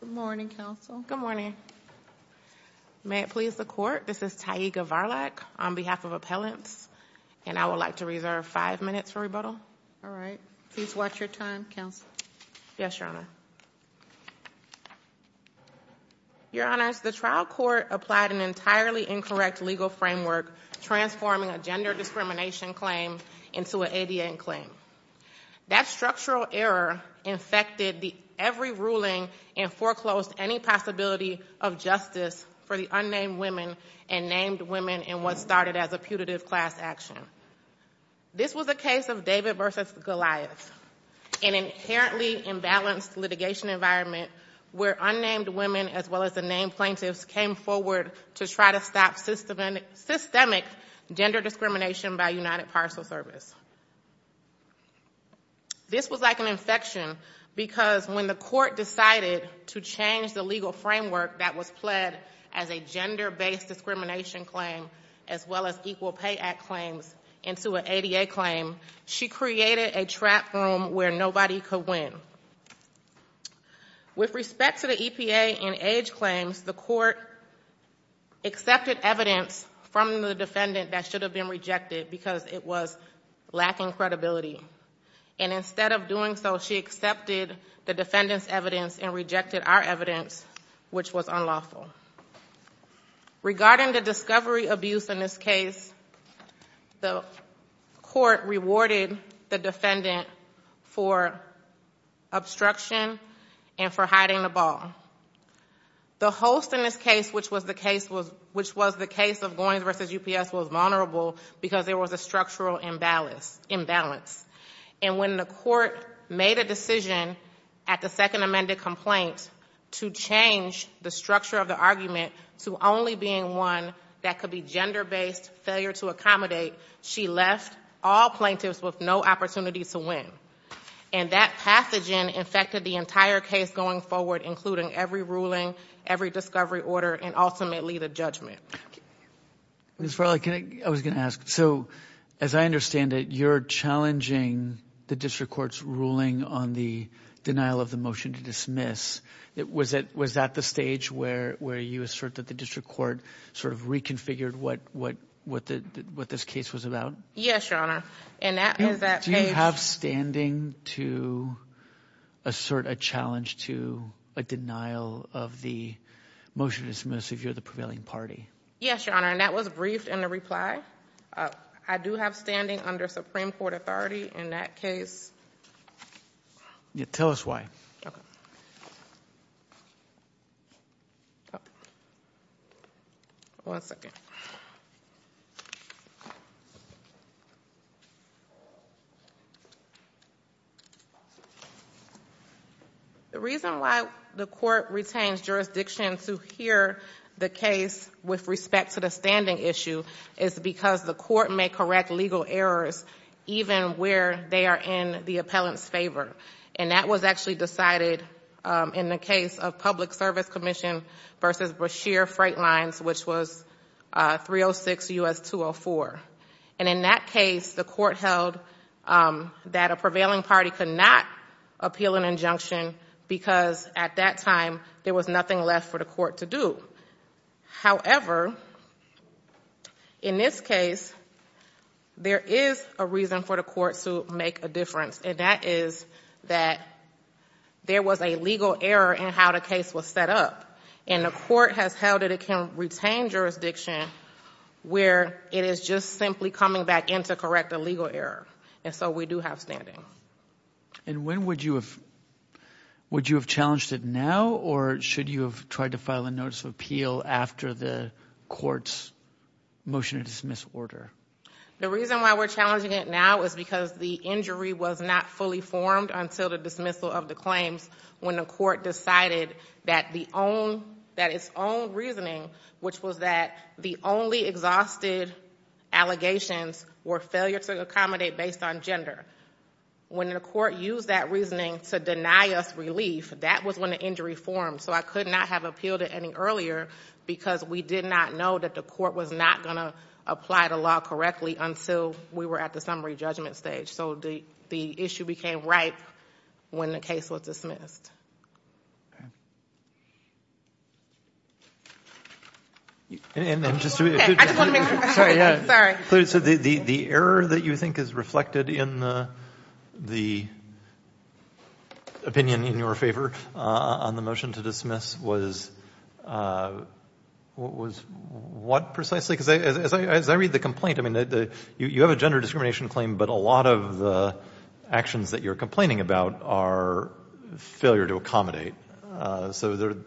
Good morning, Counsel. Good morning. May it please the Court, this is Taiga Varlack on behalf of Appellants, and I would like to reserve five minutes for rebuttal. All right. Please watch your time, Counsel. Yes, Your Honor. Your Honors, the trial court applied an entirely incorrect legal framework transforming a gender discrimination claim into an ADA claim. That structural error infected every ruling and foreclosed any possibility of justice for the unnamed women and named women in what started as a putative class action. This was a case of David v. Goliath, an inherently imbalanced litigation environment where unnamed women as well as the named plaintiffs came forward to try to stop systemic gender discrimination by United Parcel Service. This was like an infection because when the Court decided to change the legal framework that was pled as a gender-based discrimination claim as well as Equal Pay Act claims into an ADA claim, she created a trap room where nobody could win. With respect to the EPA and age claims, the Court accepted evidence from the defendant that should have been rejected because it was lacking credibility. Instead of doing so, she accepted the defendant's evidence and rejected our evidence, which was unlawful. Regarding the discovery abuse in this case, the Court rewarded the defendant for obstruction and for hiding the ball. The host in this case, which was the case of Goins v. UPS, was vulnerable because there was a structural imbalance. And when the Court made a decision at the second amended complaint to change the structure of the argument to only being one that could be gender-based, failure to accommodate, she left all plaintiffs with no opportunity to win. And that pathogen infected the entire case going forward, including every ruling, every discovery order, and ultimately the judgment. Ms. Farley, I was going to ask, so as I understand it, you're challenging the District Court's ruling on the denial of the motion to dismiss. Was that the stage where you assert that the District Court sort of reconfigured what this case was about? Yes, Your Honor. Do you have standing to assert a challenge to a denial of the motion to dismiss if you're the prevailing party? Yes, Your Honor. And that was briefed in the reply. I do have standing under Supreme Court authority in that case. Tell us why. One second. The reason why the Court retains jurisdiction to hear the case with respect to the standing issue is because the Court may correct legal errors even where they are in the appellant's favor. And that was actually decided in the case of Public Service Commission v. Brashear Freight Lines, which was 306 U.S. 204. And in that case, the Court held that a prevailing party could not appeal an injunction because at that time, there was nothing left for the Court to do. However, in this case, there is a reason for the Court to make a difference, and that is that there was a legal error in how the case was set up. And the Court has held that it can retain jurisdiction where it is just simply coming back in to correct a legal error. And so we do have standing. And when would you have challenged it now, or should you have tried to file a notice of appeal after the Court's motion to dismiss order? The reason why we're challenging it now is because the injury was not fully formed until the dismissal of the claims when the Court decided that its own reasoning, which was that the only exhausted allegations were failure to accommodate based on gender. When the Court used that reasoning to deny us relief, that was when the injury formed. So I could not have appealed it any earlier because we did not know that the Court was not going to apply the law correctly until we were at the summary judgment stage. So the issue became ripe when the case was dismissed. Okay. I just want to make sure, sorry. So the error that you think is reflected in the opinion in your favor on the motion to dismiss was what precisely? Because as I read the complaint, I mean, you have a gender discrimination claim, but a lot of the actions that you're complaining about are failure to accommodate. So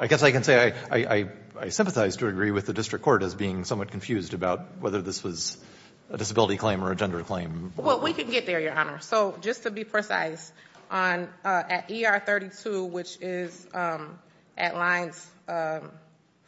I guess I can say I sympathize to agree with the District Court as being somewhat confused about whether this was a disability claim or a gender claim. Well, we can get there, Your Honor. So just to be precise, at ER 32, which is at lines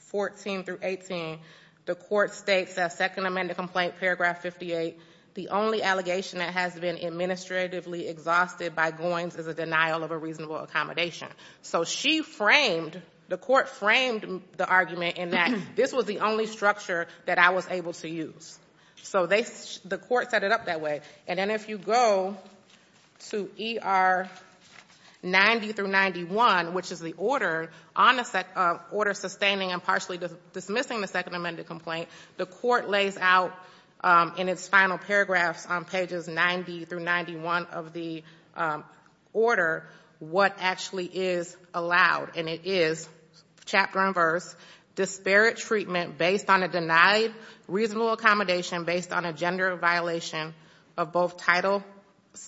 14 through 18, the Court states that second amended complaint, paragraph 58, the only allegation that has been administratively exhausted by Goins is a denial of a reasonable accommodation. So she framed, the Court framed the argument in that this was the only structure that I was able to use. So the Court set it up that way. And then if you go to ER 90 through 91, which is the order on a set of order sustaining and partially dismissing the second amended complaint, the Court lays out in its final paragraphs on pages 90 through 91 of the order, what actually is allowed. And it is, chapter and verse, disparate treatment based on a denied reasonable accommodation based on a gender violation of both Title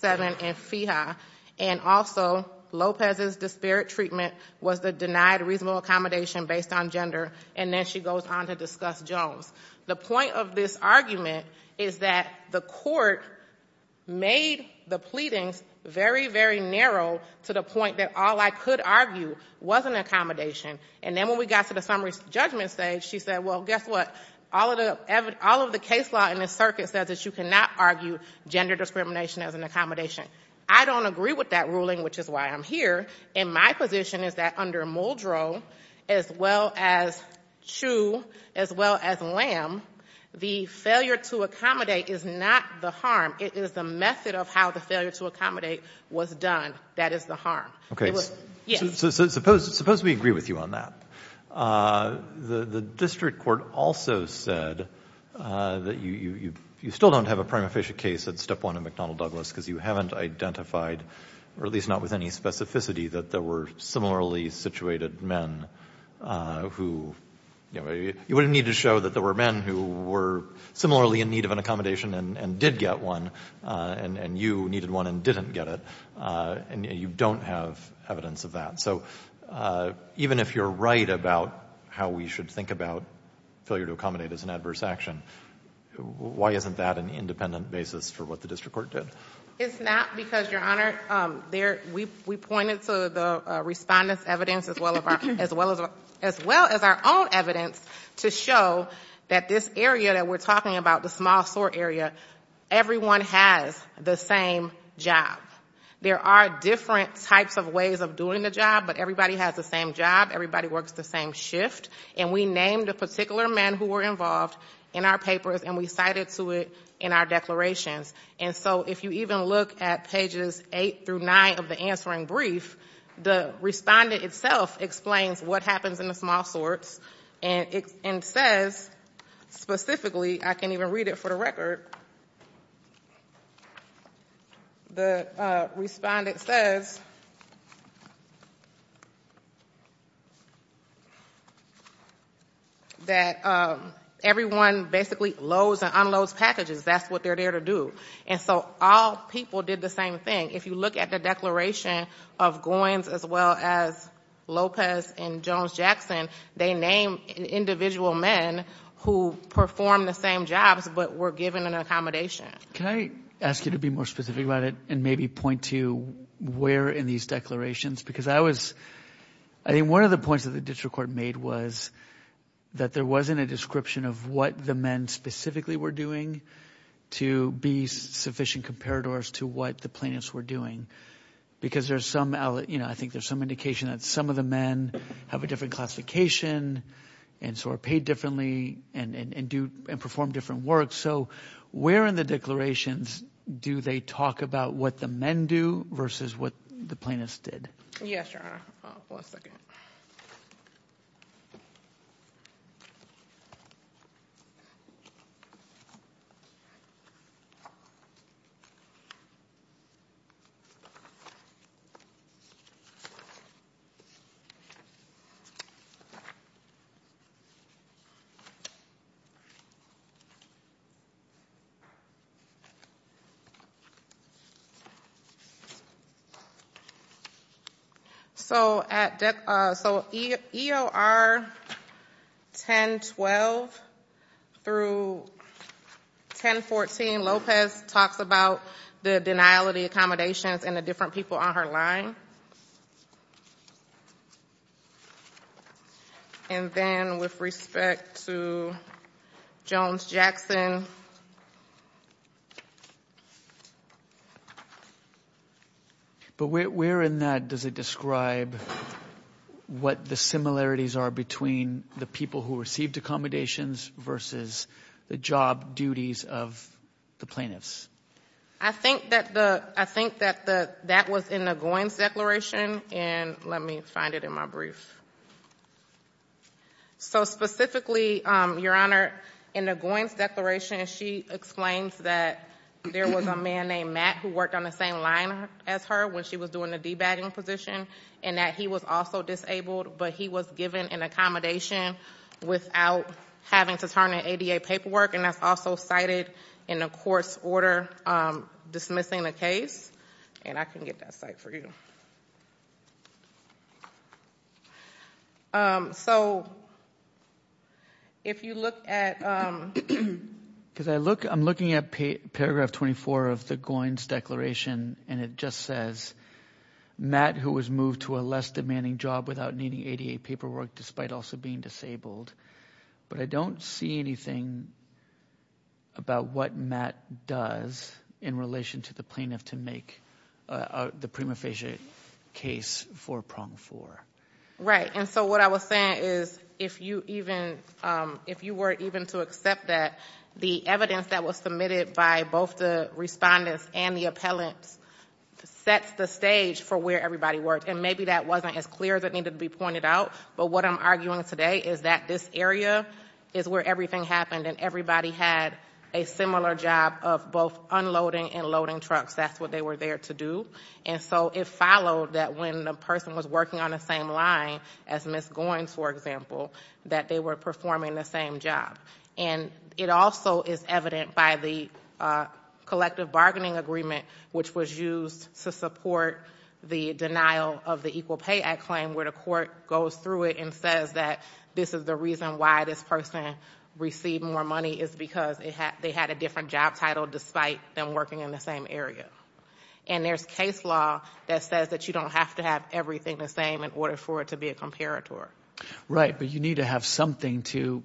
VII and FEHA. And also, Lopez's disparate treatment was the denied reasonable accommodation based on gender. And then she goes on to discuss Jones. The point of this argument is that the Court made the pleadings very, very narrow to the point that all I could argue was an accommodation. And then when we got to the summary judgment stage, she said, well, guess what? All of the case law in this circuit says that you cannot argue gender discrimination as an accommodation. I don't agree with that ruling, which is why I'm here. And my position is that under Muldrow, as well as Chiu, as well as Lamb, the failure to accommodate is not the harm. It is the method of how the failure to accommodate was done that is the harm. So suppose we agree with you on that. The district court also said that you still don't have a prima facie case at Step 1 in McDonnell Douglas because you haven't identified, or at least not with any specificity, that there were similarly situated men who, you know, you wouldn't need to show that there were men who were similarly in need of an accommodation and did get one, and you needed one and didn't get it. And you don't have evidence of that. So even if you're right about how we should think about failure to accommodate as an adverse action, why isn't that an independent basis for what the district court did? It's not because, Your Honor, we pointed to the respondent's evidence as well as our own evidence to show that this area that we're talking about, the small SOAR area, everyone has the same job. There are different types of ways of doing the job, but everybody has the same job. Everybody works the same shift. And we named the particular men who were involved in our papers, and we cited to it in our declarations. And so if you even look at pages 8 through 9 of the answering brief, the respondent itself explains what happens in the small SOARs and says specifically, I can't even read it for the record, the respondent says that everyone basically loads and unloads packages. That's what they're there to do. And so all people did the same thing. If you look at the declaration of Goins as well as Lopez and Jones-Jackson, they named individual men who performed the same jobs but were given an accommodation. Can I ask you to be more specific about it and maybe point to where in these declarations? Because I was, I think one of the points that the district court made was that there wasn't a description of what the men specifically were doing to be sufficient comparators to what the plaintiffs were doing. Because there's some, you know, I think there's some indication that some of the men have a different classification and SOAR paid differently and perform different work. So where in the declarations do they talk about what the men do versus what the plaintiffs did? Yes, Your Honor. Hold on one second. So at, so EOR 1012 through 1014, Lopez talks about the denial of the accommodations and the different people on her line. And then with respect to Jones-Jackson. But where in that does it describe what the similarities are between the people who received accommodations versus the job duties of the plaintiffs? I think that the, I think that the, that was in the Goins declaration and let me find it in my brief. So specifically, Your Honor, in the Goins declaration, she explains that there was a man named Matt who worked on the same line as her when she was doing the debugging position and that he was also disabled but he was given an accommodation without having to turn in ADA paperwork. And that's also cited in the court's order dismissing the case. And I can get that cite for you. So if you look at, because I look, I'm looking at paragraph 24 of the Goins declaration and it just says, Matt who was moved to a less demanding job without needing ADA paperwork despite also being disabled. But I don't see anything about what Matt does in relation to the plaintiff to make the premium officiate case for prong four. Right. And so what I was saying is if you even, if you were even to accept that, the evidence that was submitted by both the respondents and the appellants sets the stage for where everybody worked. And maybe that wasn't as clear as it needed to be pointed out. But what I'm arguing today is that this area is where everything happened and everybody had a similar job of both unloading and loading trucks. That's what they were there to do. And so it followed that when the person was working on the same line as Ms. Goins, for example, that they were performing the same job. And it also is evident by the collective bargaining agreement which was used to support the denial of the Equal Pay Act claim where the court goes through it and says that this is the reason why this person received more money is because they had a different job title despite them working in the same area. And there's case law that says that you don't have to have everything the same in order for it to be a comparator. But you need to have something to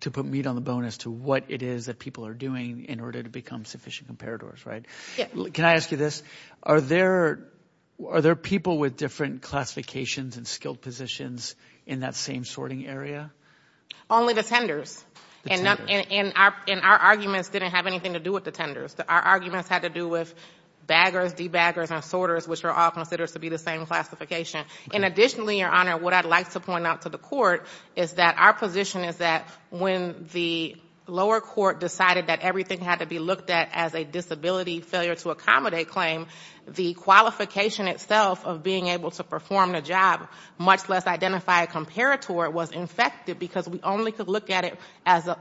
put meat on the bone as to what it is that people are doing in order to become sufficient comparators, right? Yes. Can I ask you this? Are there people with different classifications and skilled positions in that same sorting area? Only the tenders. The tenders. And our arguments didn't have anything to do with the tenders. Our arguments had to do with baggers, de-baggers, and sorters which are all considered to be the same classification. And additionally, Your Honor, what I'd like to point out to the court is that our position is that when the lower court decided that everything had to be looked at as a disability failure to accommodate claim, the qualification itself of being able to perform the job, much less identify a comparator, was infected because we only could look at it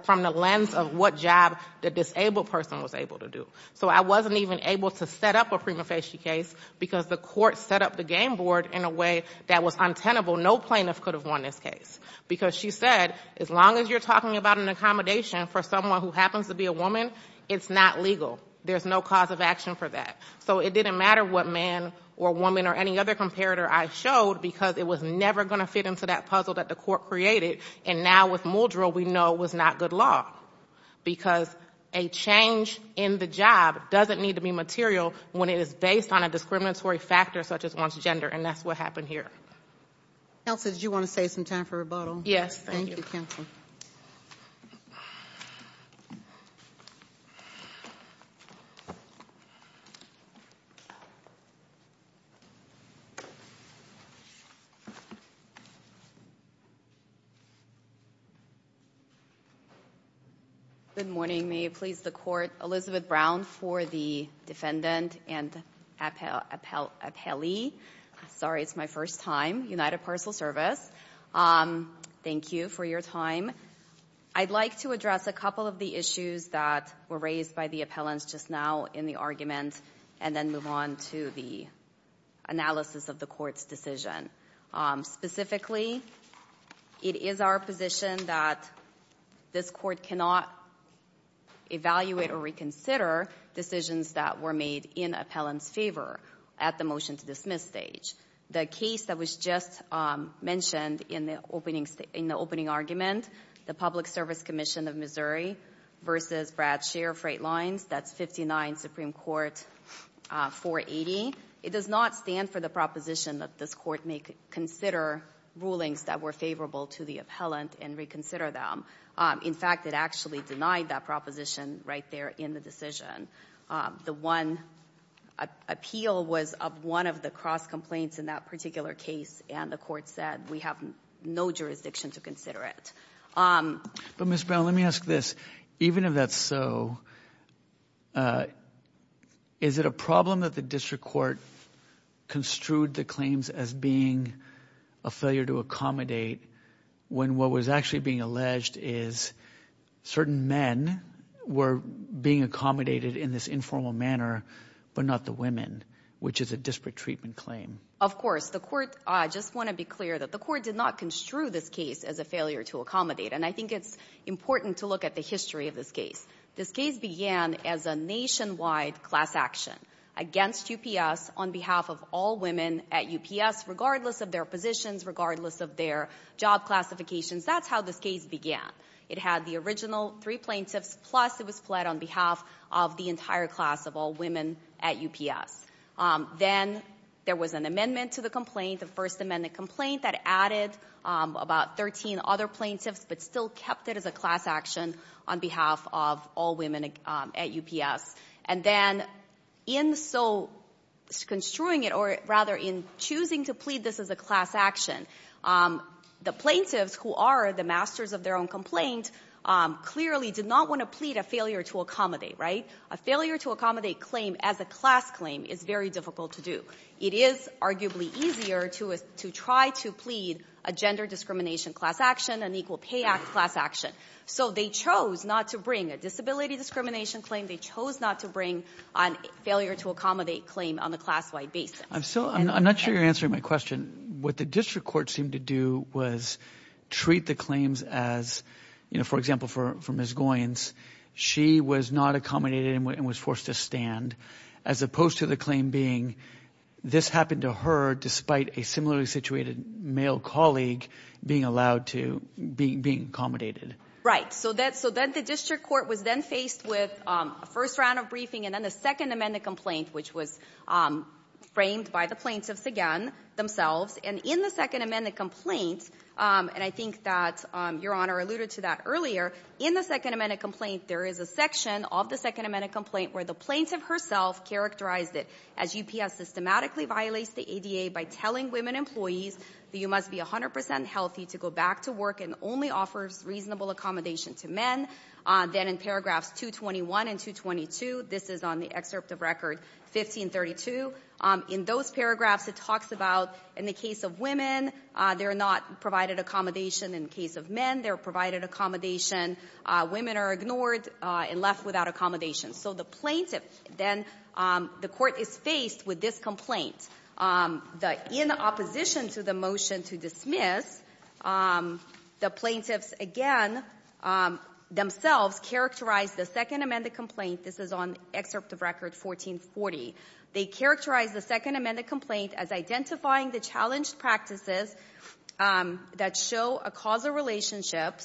from the lens of what job the disabled person was able to do. So I wasn't even able to set up a prima facie case because the court set up the game board in a way that was untenable. No plaintiff could have won this case because she said, as long as you're talking about an accommodation for someone who happens to be a woman, it's not legal. There's no cause of action for that. So it didn't matter what man or woman or any other comparator I showed because it was never going to fit into that puzzle that the court created. And now with Muldrell, we know it was not good law because a change in the job doesn't need to be material when it is based on a discriminatory factor such as one's gender, and that's what happened here. Counsel, did you want to save some time for rebuttal? Yes, thank you. Thank you, Counsel. Good morning. May it please the court, Elizabeth Brown for the defendant and appellee. Sorry, it's my first time. United Parcel Service. Thank you for your time. I'd like to address a couple of the issues that were raised by the appellants just now in the argument and then move on to the analysis of the court's decision. Specifically, it is our position that this court cannot evaluate or reconsider decisions that were made in appellant's favor at the motion to dismiss stage. The case that was just mentioned in the opening argument, the Public Service Commission of Missouri versus Bradshire Freight Lines, that's 59 Supreme Court 480. It does not stand for the proposition that this court may consider rulings that were favorable to the appellant and reconsider them. In fact, it actually denied that proposition right there in the decision. The one appeal was of one of the cross complaints in that particular case and the court said we have no jurisdiction to consider it. But Ms. Brown, let me ask this. Even if that's so, is it a problem that the district court construed the claims as being a failure to accommodate when what was actually being alleged is certain men were being accommodated in this informal manner but not the women, which is a disparate treatment claim? Of course. The court, I just want to be clear that the court did not construe this case as a failure to accommodate and I think it's important to look at the history of this case. This case began as a nationwide class action against UPS on behalf of all women at UPS regardless of their positions, regardless of their job classifications. That's how this case began. It had the original three plaintiffs plus it was fled on behalf of the entire class of all women at UPS. Then there was an amendment to the complaint, the first amendment complaint that added about 13 other plaintiffs but still kept it as a class action on behalf of all women at UPS. And then in so construing it or rather in choosing to plead this as a class action, the plaintiffs who are the masters of their own complaint clearly did not want to plead a failure to accommodate, right? A failure to accommodate claim as a class claim is very difficult to do. It is arguably easier to try to plead a gender discrimination class action, an Equal Pay Act class action. So they chose not to bring a disability discrimination claim. They chose not to bring a failure to accommodate claim on the class-wide basis. I'm not sure you're answering my question. What the district court seemed to do was treat the claims as, for example, for Ms. Goins, she was not accommodated and was forced to stand as opposed to the claim being this happened to her despite a similarly situated male colleague being allowed to be accommodated. Right. So then the district court was then faced with a first round of briefing and then the second amendment complaint which was framed by the plaintiffs again themselves. And in the second amendment complaint, and I think that Your Honor alluded to that earlier, in the second amendment complaint, there is a section of the second amendment complaint where the plaintiff herself characterized it as UPS systematically violates the ADA by telling women employees that you must be 100 percent healthy to go back to work and only offers reasonable accommodation to men. Then in paragraphs 221 and 222, this is on the excerpt of record 1532, in those paragraphs it talks about in the case of women, they're not provided accommodation. In the case of men, they're provided accommodation. Women are ignored and left without accommodation. So the plaintiff then, the court is faced with this complaint. In opposition to the motion to dismiss, the plaintiffs again themselves characterize the second amendment complaint. This is on excerpt of record 1440. They characterize the second amendment complaint as identifying the challenged practices that show a causal relationship.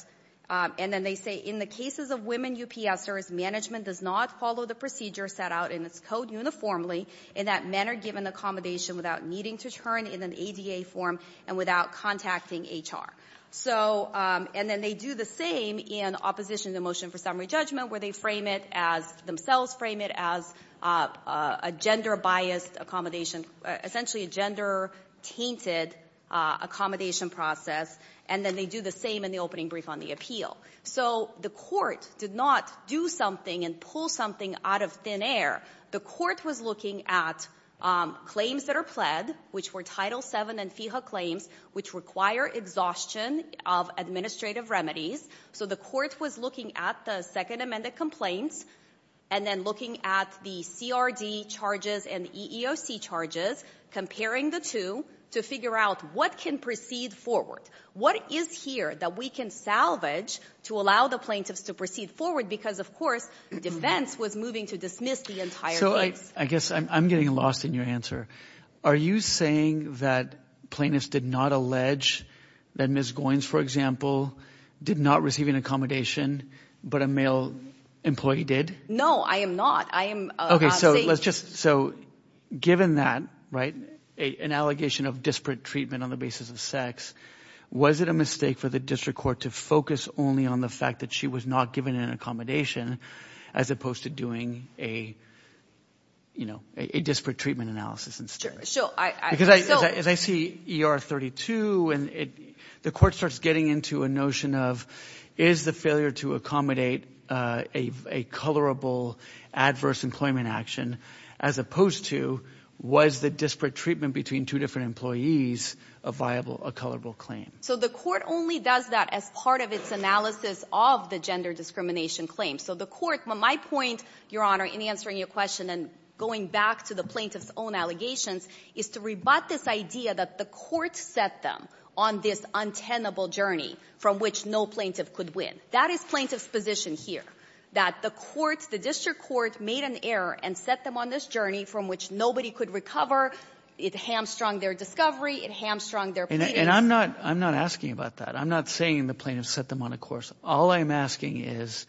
And then they say, in the cases of women UPSers, management does not follow the procedure set out in its code uniformly in that men are given accommodation without needing to turn in an ADA form and without contacting HR. So, and then they do the same in opposition to the motion for summary judgment where they frame it as, themselves frame it as a gender-biased accommodation, essentially a gender-tainted accommodation process. And then they do the same in the opening brief on the appeal. So the court did not do something and pull something out of thin air. The court was looking at claims that are pled, which were Title VII and FEHA claims, which require exhaustion of administrative remedies. So the court was looking at the second amendment complaints and then looking at the CRD charges and the EEOC charges, comparing the two to figure out what can proceed forward. What is here that we can salvage to allow the plaintiffs to proceed forward because, of course, defense was moving to dismiss the entire case. So I guess I'm getting lost in your answer. Are you saying that plaintiffs did not allege that Ms. Goins, for example, did not receive an accommodation but a male employee did? No, I am not. I am not saying. So given that, right, an allegation of disparate treatment on the basis of sex, was it a mistake for the district court to focus only on the fact that she was not given an accommodation as opposed to doing a disparate treatment analysis instead? Because as I see ER 32, the court starts getting into a notion of is the failure to accommodate a colorable adverse employment action as opposed to was the disparate treatment between two different employees a viable, a colorable claim? So the court only does that as part of its analysis of the gender discrimination claim. So the court, my point, Your Honor, in answering your question and going back to the plaintiffs' own allegations is to rebut this idea that the court set them on this untenable journey from which no plaintiff could win. That is plaintiffs' position here, that the court, the district court made an error and set them on this journey from which nobody could recover. It hamstrung their discovery. It hamstrung their proceedings. And I'm not asking about that. I'm not saying the plaintiffs set them on a course. All I'm asking is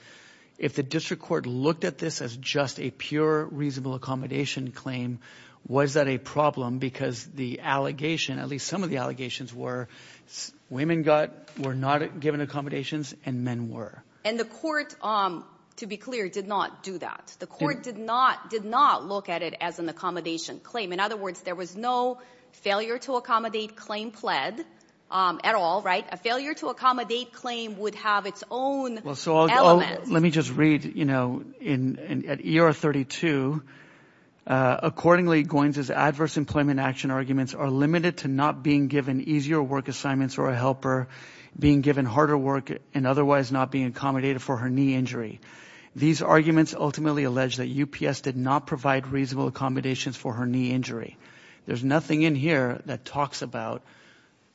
if the district court looked at this as just a pure reasonable accommodation claim, was that a problem because the allegation, at least some of the And the court, to be clear, did not do that. The court did not look at it as an accommodation claim. In other words, there was no failure to accommodate claim pled at all, right? A failure to accommodate claim would have its own elements. Let me just read, you know, at ER 32, accordingly, Goins' adverse employment action arguments are limited to not being given easier work assignments or a helper, being given harder work, and otherwise not being accommodated for her knee injury. These arguments ultimately allege that UPS did not provide reasonable accommodations for her knee injury. There's nothing in here that talks about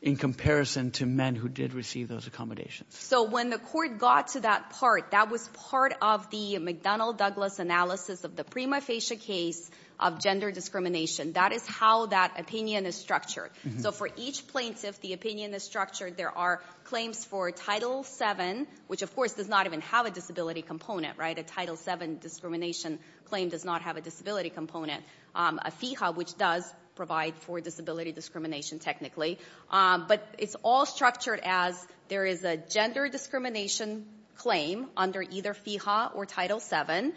in comparison to men who did receive those accommodations. So when the court got to that part, that was part of the McDonnell-Douglas analysis of the prima facie case of gender discrimination. That is how that opinion is structured. So for each plaintiff, the opinion is structured. There are claims for Title VII, which of course does not even have a disability component, right? A Title VII discrimination claim does not have a disability component. A FIHA, which does provide for disability discrimination, technically. But it's all structured as there is a gender discrimination claim under either FIHA or Title VII.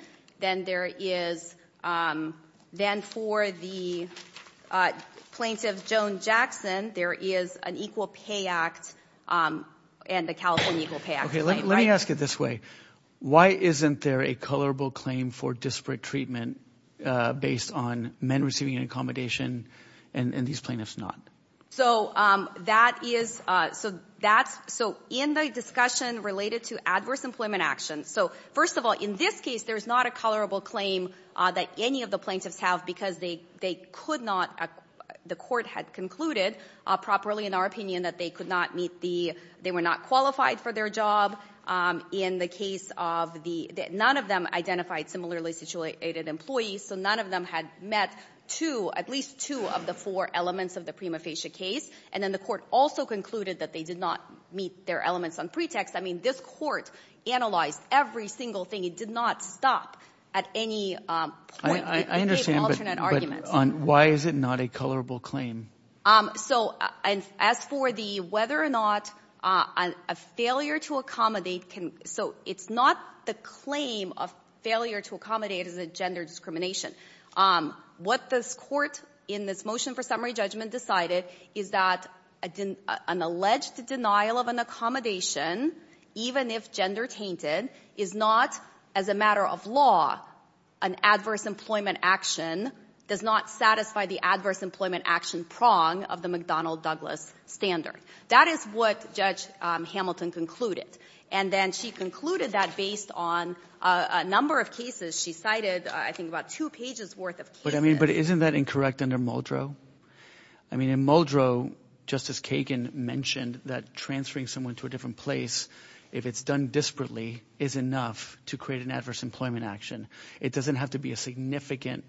Then for the plaintiff, Joan Jackson, there is an Equal Pay Act and the California Equal Pay Act. Let me ask it this way. Why isn't there a colorable claim for disparate treatment based on men receiving an accommodation and these plaintiffs not? So in the discussion related to adverse employment action, so first of all, in this case, there is not a colorable claim that any of the plaintiffs have because they could not, the court had concluded properly in our opinion that they could not meet the, they were not qualified for their job. In the case of the, none of them identified similarly situated employees, so none of them had met two, at least two of the four elements of the prima facie case. And then the court also concluded that they did not meet their elements on pretext. I mean, this court analyzed every single thing. It did not stop at any point. It gave alternate arguments. I understand, but why is it not a colorable claim? So as for the whether or not a failure to accommodate can, so it's not the claim of failure to accommodate as a gender discrimination. What this court in this motion for summary judgment decided is that an alleged denial of an accommodation, even if gender tainted, is not, as a matter of law, an adverse employment action, does not satisfy the adverse employment action prong of the McDonnell-Douglas standard. That is what Judge Hamilton concluded. And then she concluded that based on a number of cases. She cited, I think, about two pages worth of cases. But isn't that incorrect under Muldrow? I mean, in Muldrow, Justice Kagan mentioned that transferring someone to a different place, if it's done disparately, is enough to create an adverse employment action. It doesn't have to be a significant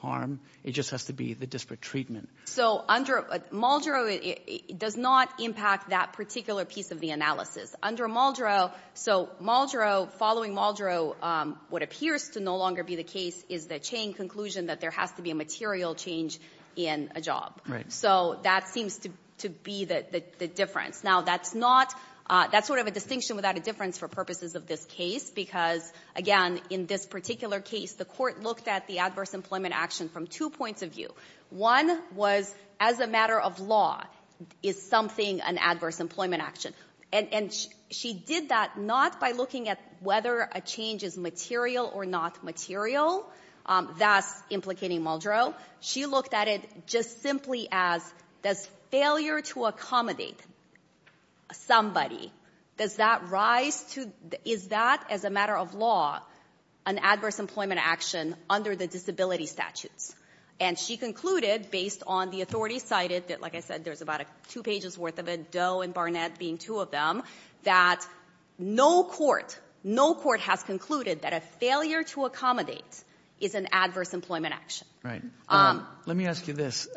harm. It just has to be the disparate treatment. So Muldrow does not impact that particular piece of the analysis. Under Muldrow, so Muldrow, following Muldrow, what appears to no longer be the case is the Chang conclusion that there has to be a material change in a job. So that seems to be the difference. Now, that's not — that's sort of a distinction without a difference for purposes of this case because, again, in this particular case, the court looked at the adverse employment action from two points of view. One was, as a matter of law, is something an adverse employment action? And she did that not by looking at whether a change is material or not material. That's implicating Muldrow. She looked at it just simply as, does failure to accommodate somebody, does that rise to — is that, as a matter of law, an adverse employment action under the disability statutes? And she concluded, based on the authority cited, that, like I said, there's about two pages worth of it, Doe and Barnett being two of them, that no court, no court has concluded that a failure to accommodate is an adverse employment action. Right. Let me ask you this.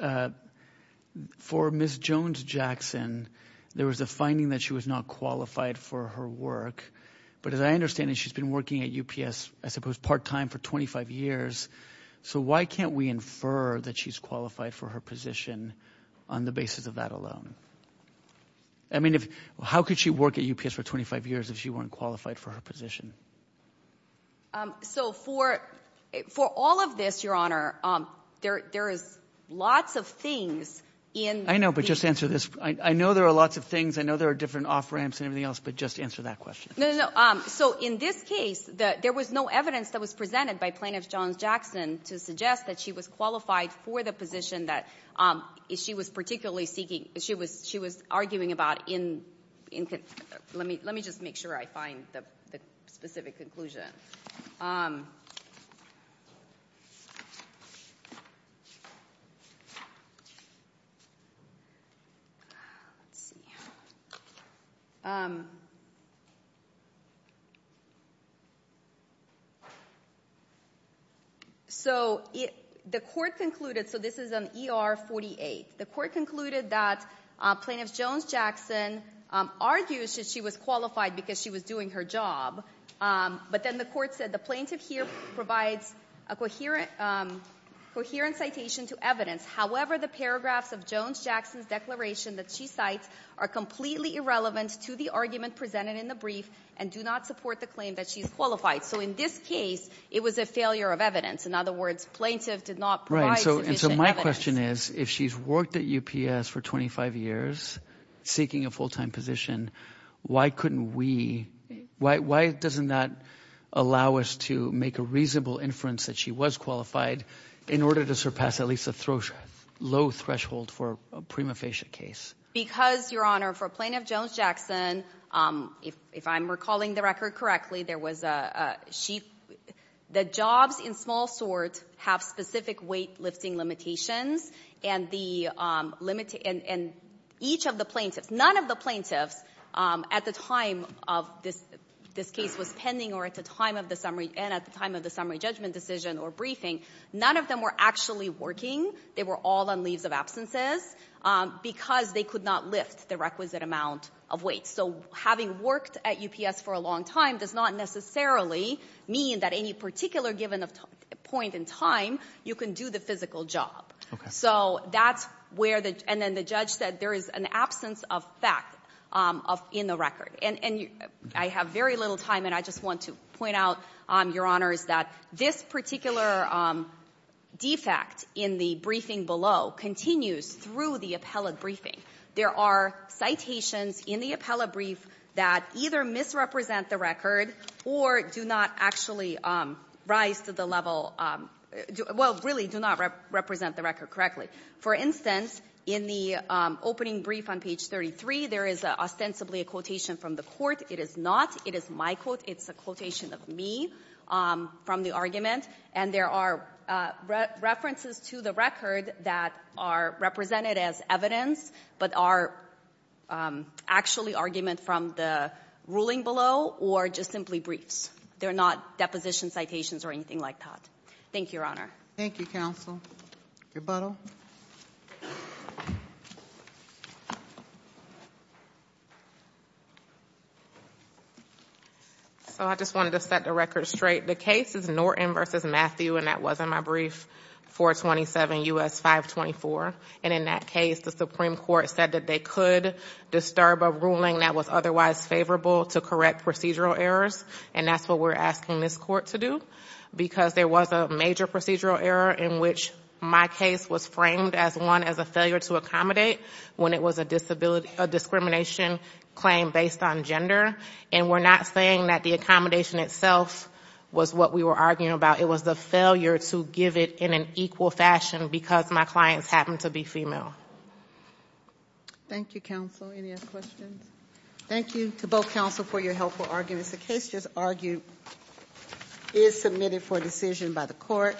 For Ms. Jones-Jackson, there was a finding that she was not qualified for her work. But as I understand it, she's been working at UPS, I suppose, part-time for 25 years. So why can't we infer that she's qualified for her position on the basis of that alone? I mean, how could she work at UPS for 25 years if she weren't qualified for her position? So for all of this, Your Honor, there is lots of things in — I know, but just answer this. I know there are lots of things. I know there are different off-ramps and everything else, but just answer that question. No, no, no. So in this case, there was no evidence that was presented by Plaintiff Jones-Jackson to suggest that she was qualified for the position that she was particularly seeking. She was arguing about in — let me just make sure I find the specific conclusion. So the court concluded — so this is on ER 48. The court concluded that Plaintiff Jones-Jackson argues that she was qualified because she was doing her job. But then the court said the plaintiff here provides a coherent citation to evidence. However, the paragraphs of Jones-Jackson's declaration that she cites are completely irrelevant to the argument presented in the brief and do not support the claim that she's qualified. So in this case, it was a failure of evidence. In other words, plaintiff did not provide sufficient evidence. Right, and so my question is, if she's worked at UPS for 25 years seeking a full-time position, why couldn't we — why doesn't that allow us to make a reasonable inference that she was qualified in order to surpass at least a low threshold for a prima facie case? Because, Your Honor, for Plaintiff Jones-Jackson, if I'm recalling the record correctly, there was a — she — the jobs in small sort have specific weightlifting limitations, and the — and each of the plaintiffs, none of the plaintiffs at the time of this case was pending or at the time of the summary — and at the time of the summary judgment decision or briefing, none of them were actually working. They were all on leaves of absences because they could not lift the requisite amount of weight. So having worked at UPS for a long time does not necessarily mean that any particular given point in time you can do the physical job. So that's where the — and then the judge said there is an absence of fact in the record. And I have very little time, and I just want to point out, Your Honor, is that this particular defect in the briefing below continues through the appellate briefing. There are citations in the appellate brief that either misrepresent the record or do not actually rise to the level — well, really do not represent the record correctly. For instance, in the opening brief on page 33, there is ostensibly a quotation from the court. It is not. It is my quote. It's a quotation of me from the argument. And there are references to the record that are represented as evidence but are actually argument from the ruling below or just simply briefs. They're not deposition citations or anything like that. Thank you, Your Honor. Thank you, counsel. Rebuttal. So I just wanted to set the record straight. The case is Norton v. Matthew, and that was in my brief, 427 U.S. 524. And in that case, the Supreme Court said that they could disturb a ruling that was otherwise favorable to correct procedural errors, and that's what we're asking this court to do because there was a major procedural error in which my case was framed as one as a failure to accommodate when it was a discrimination claim based on gender. And we're not saying that the accommodation itself was what we were arguing about. It was the failure to give it in an equal fashion because my clients happened to be female. Thank you, counsel. Any other questions? Thank you to both counsel for your helpful arguments. The case just argued is submitted for decision by the court.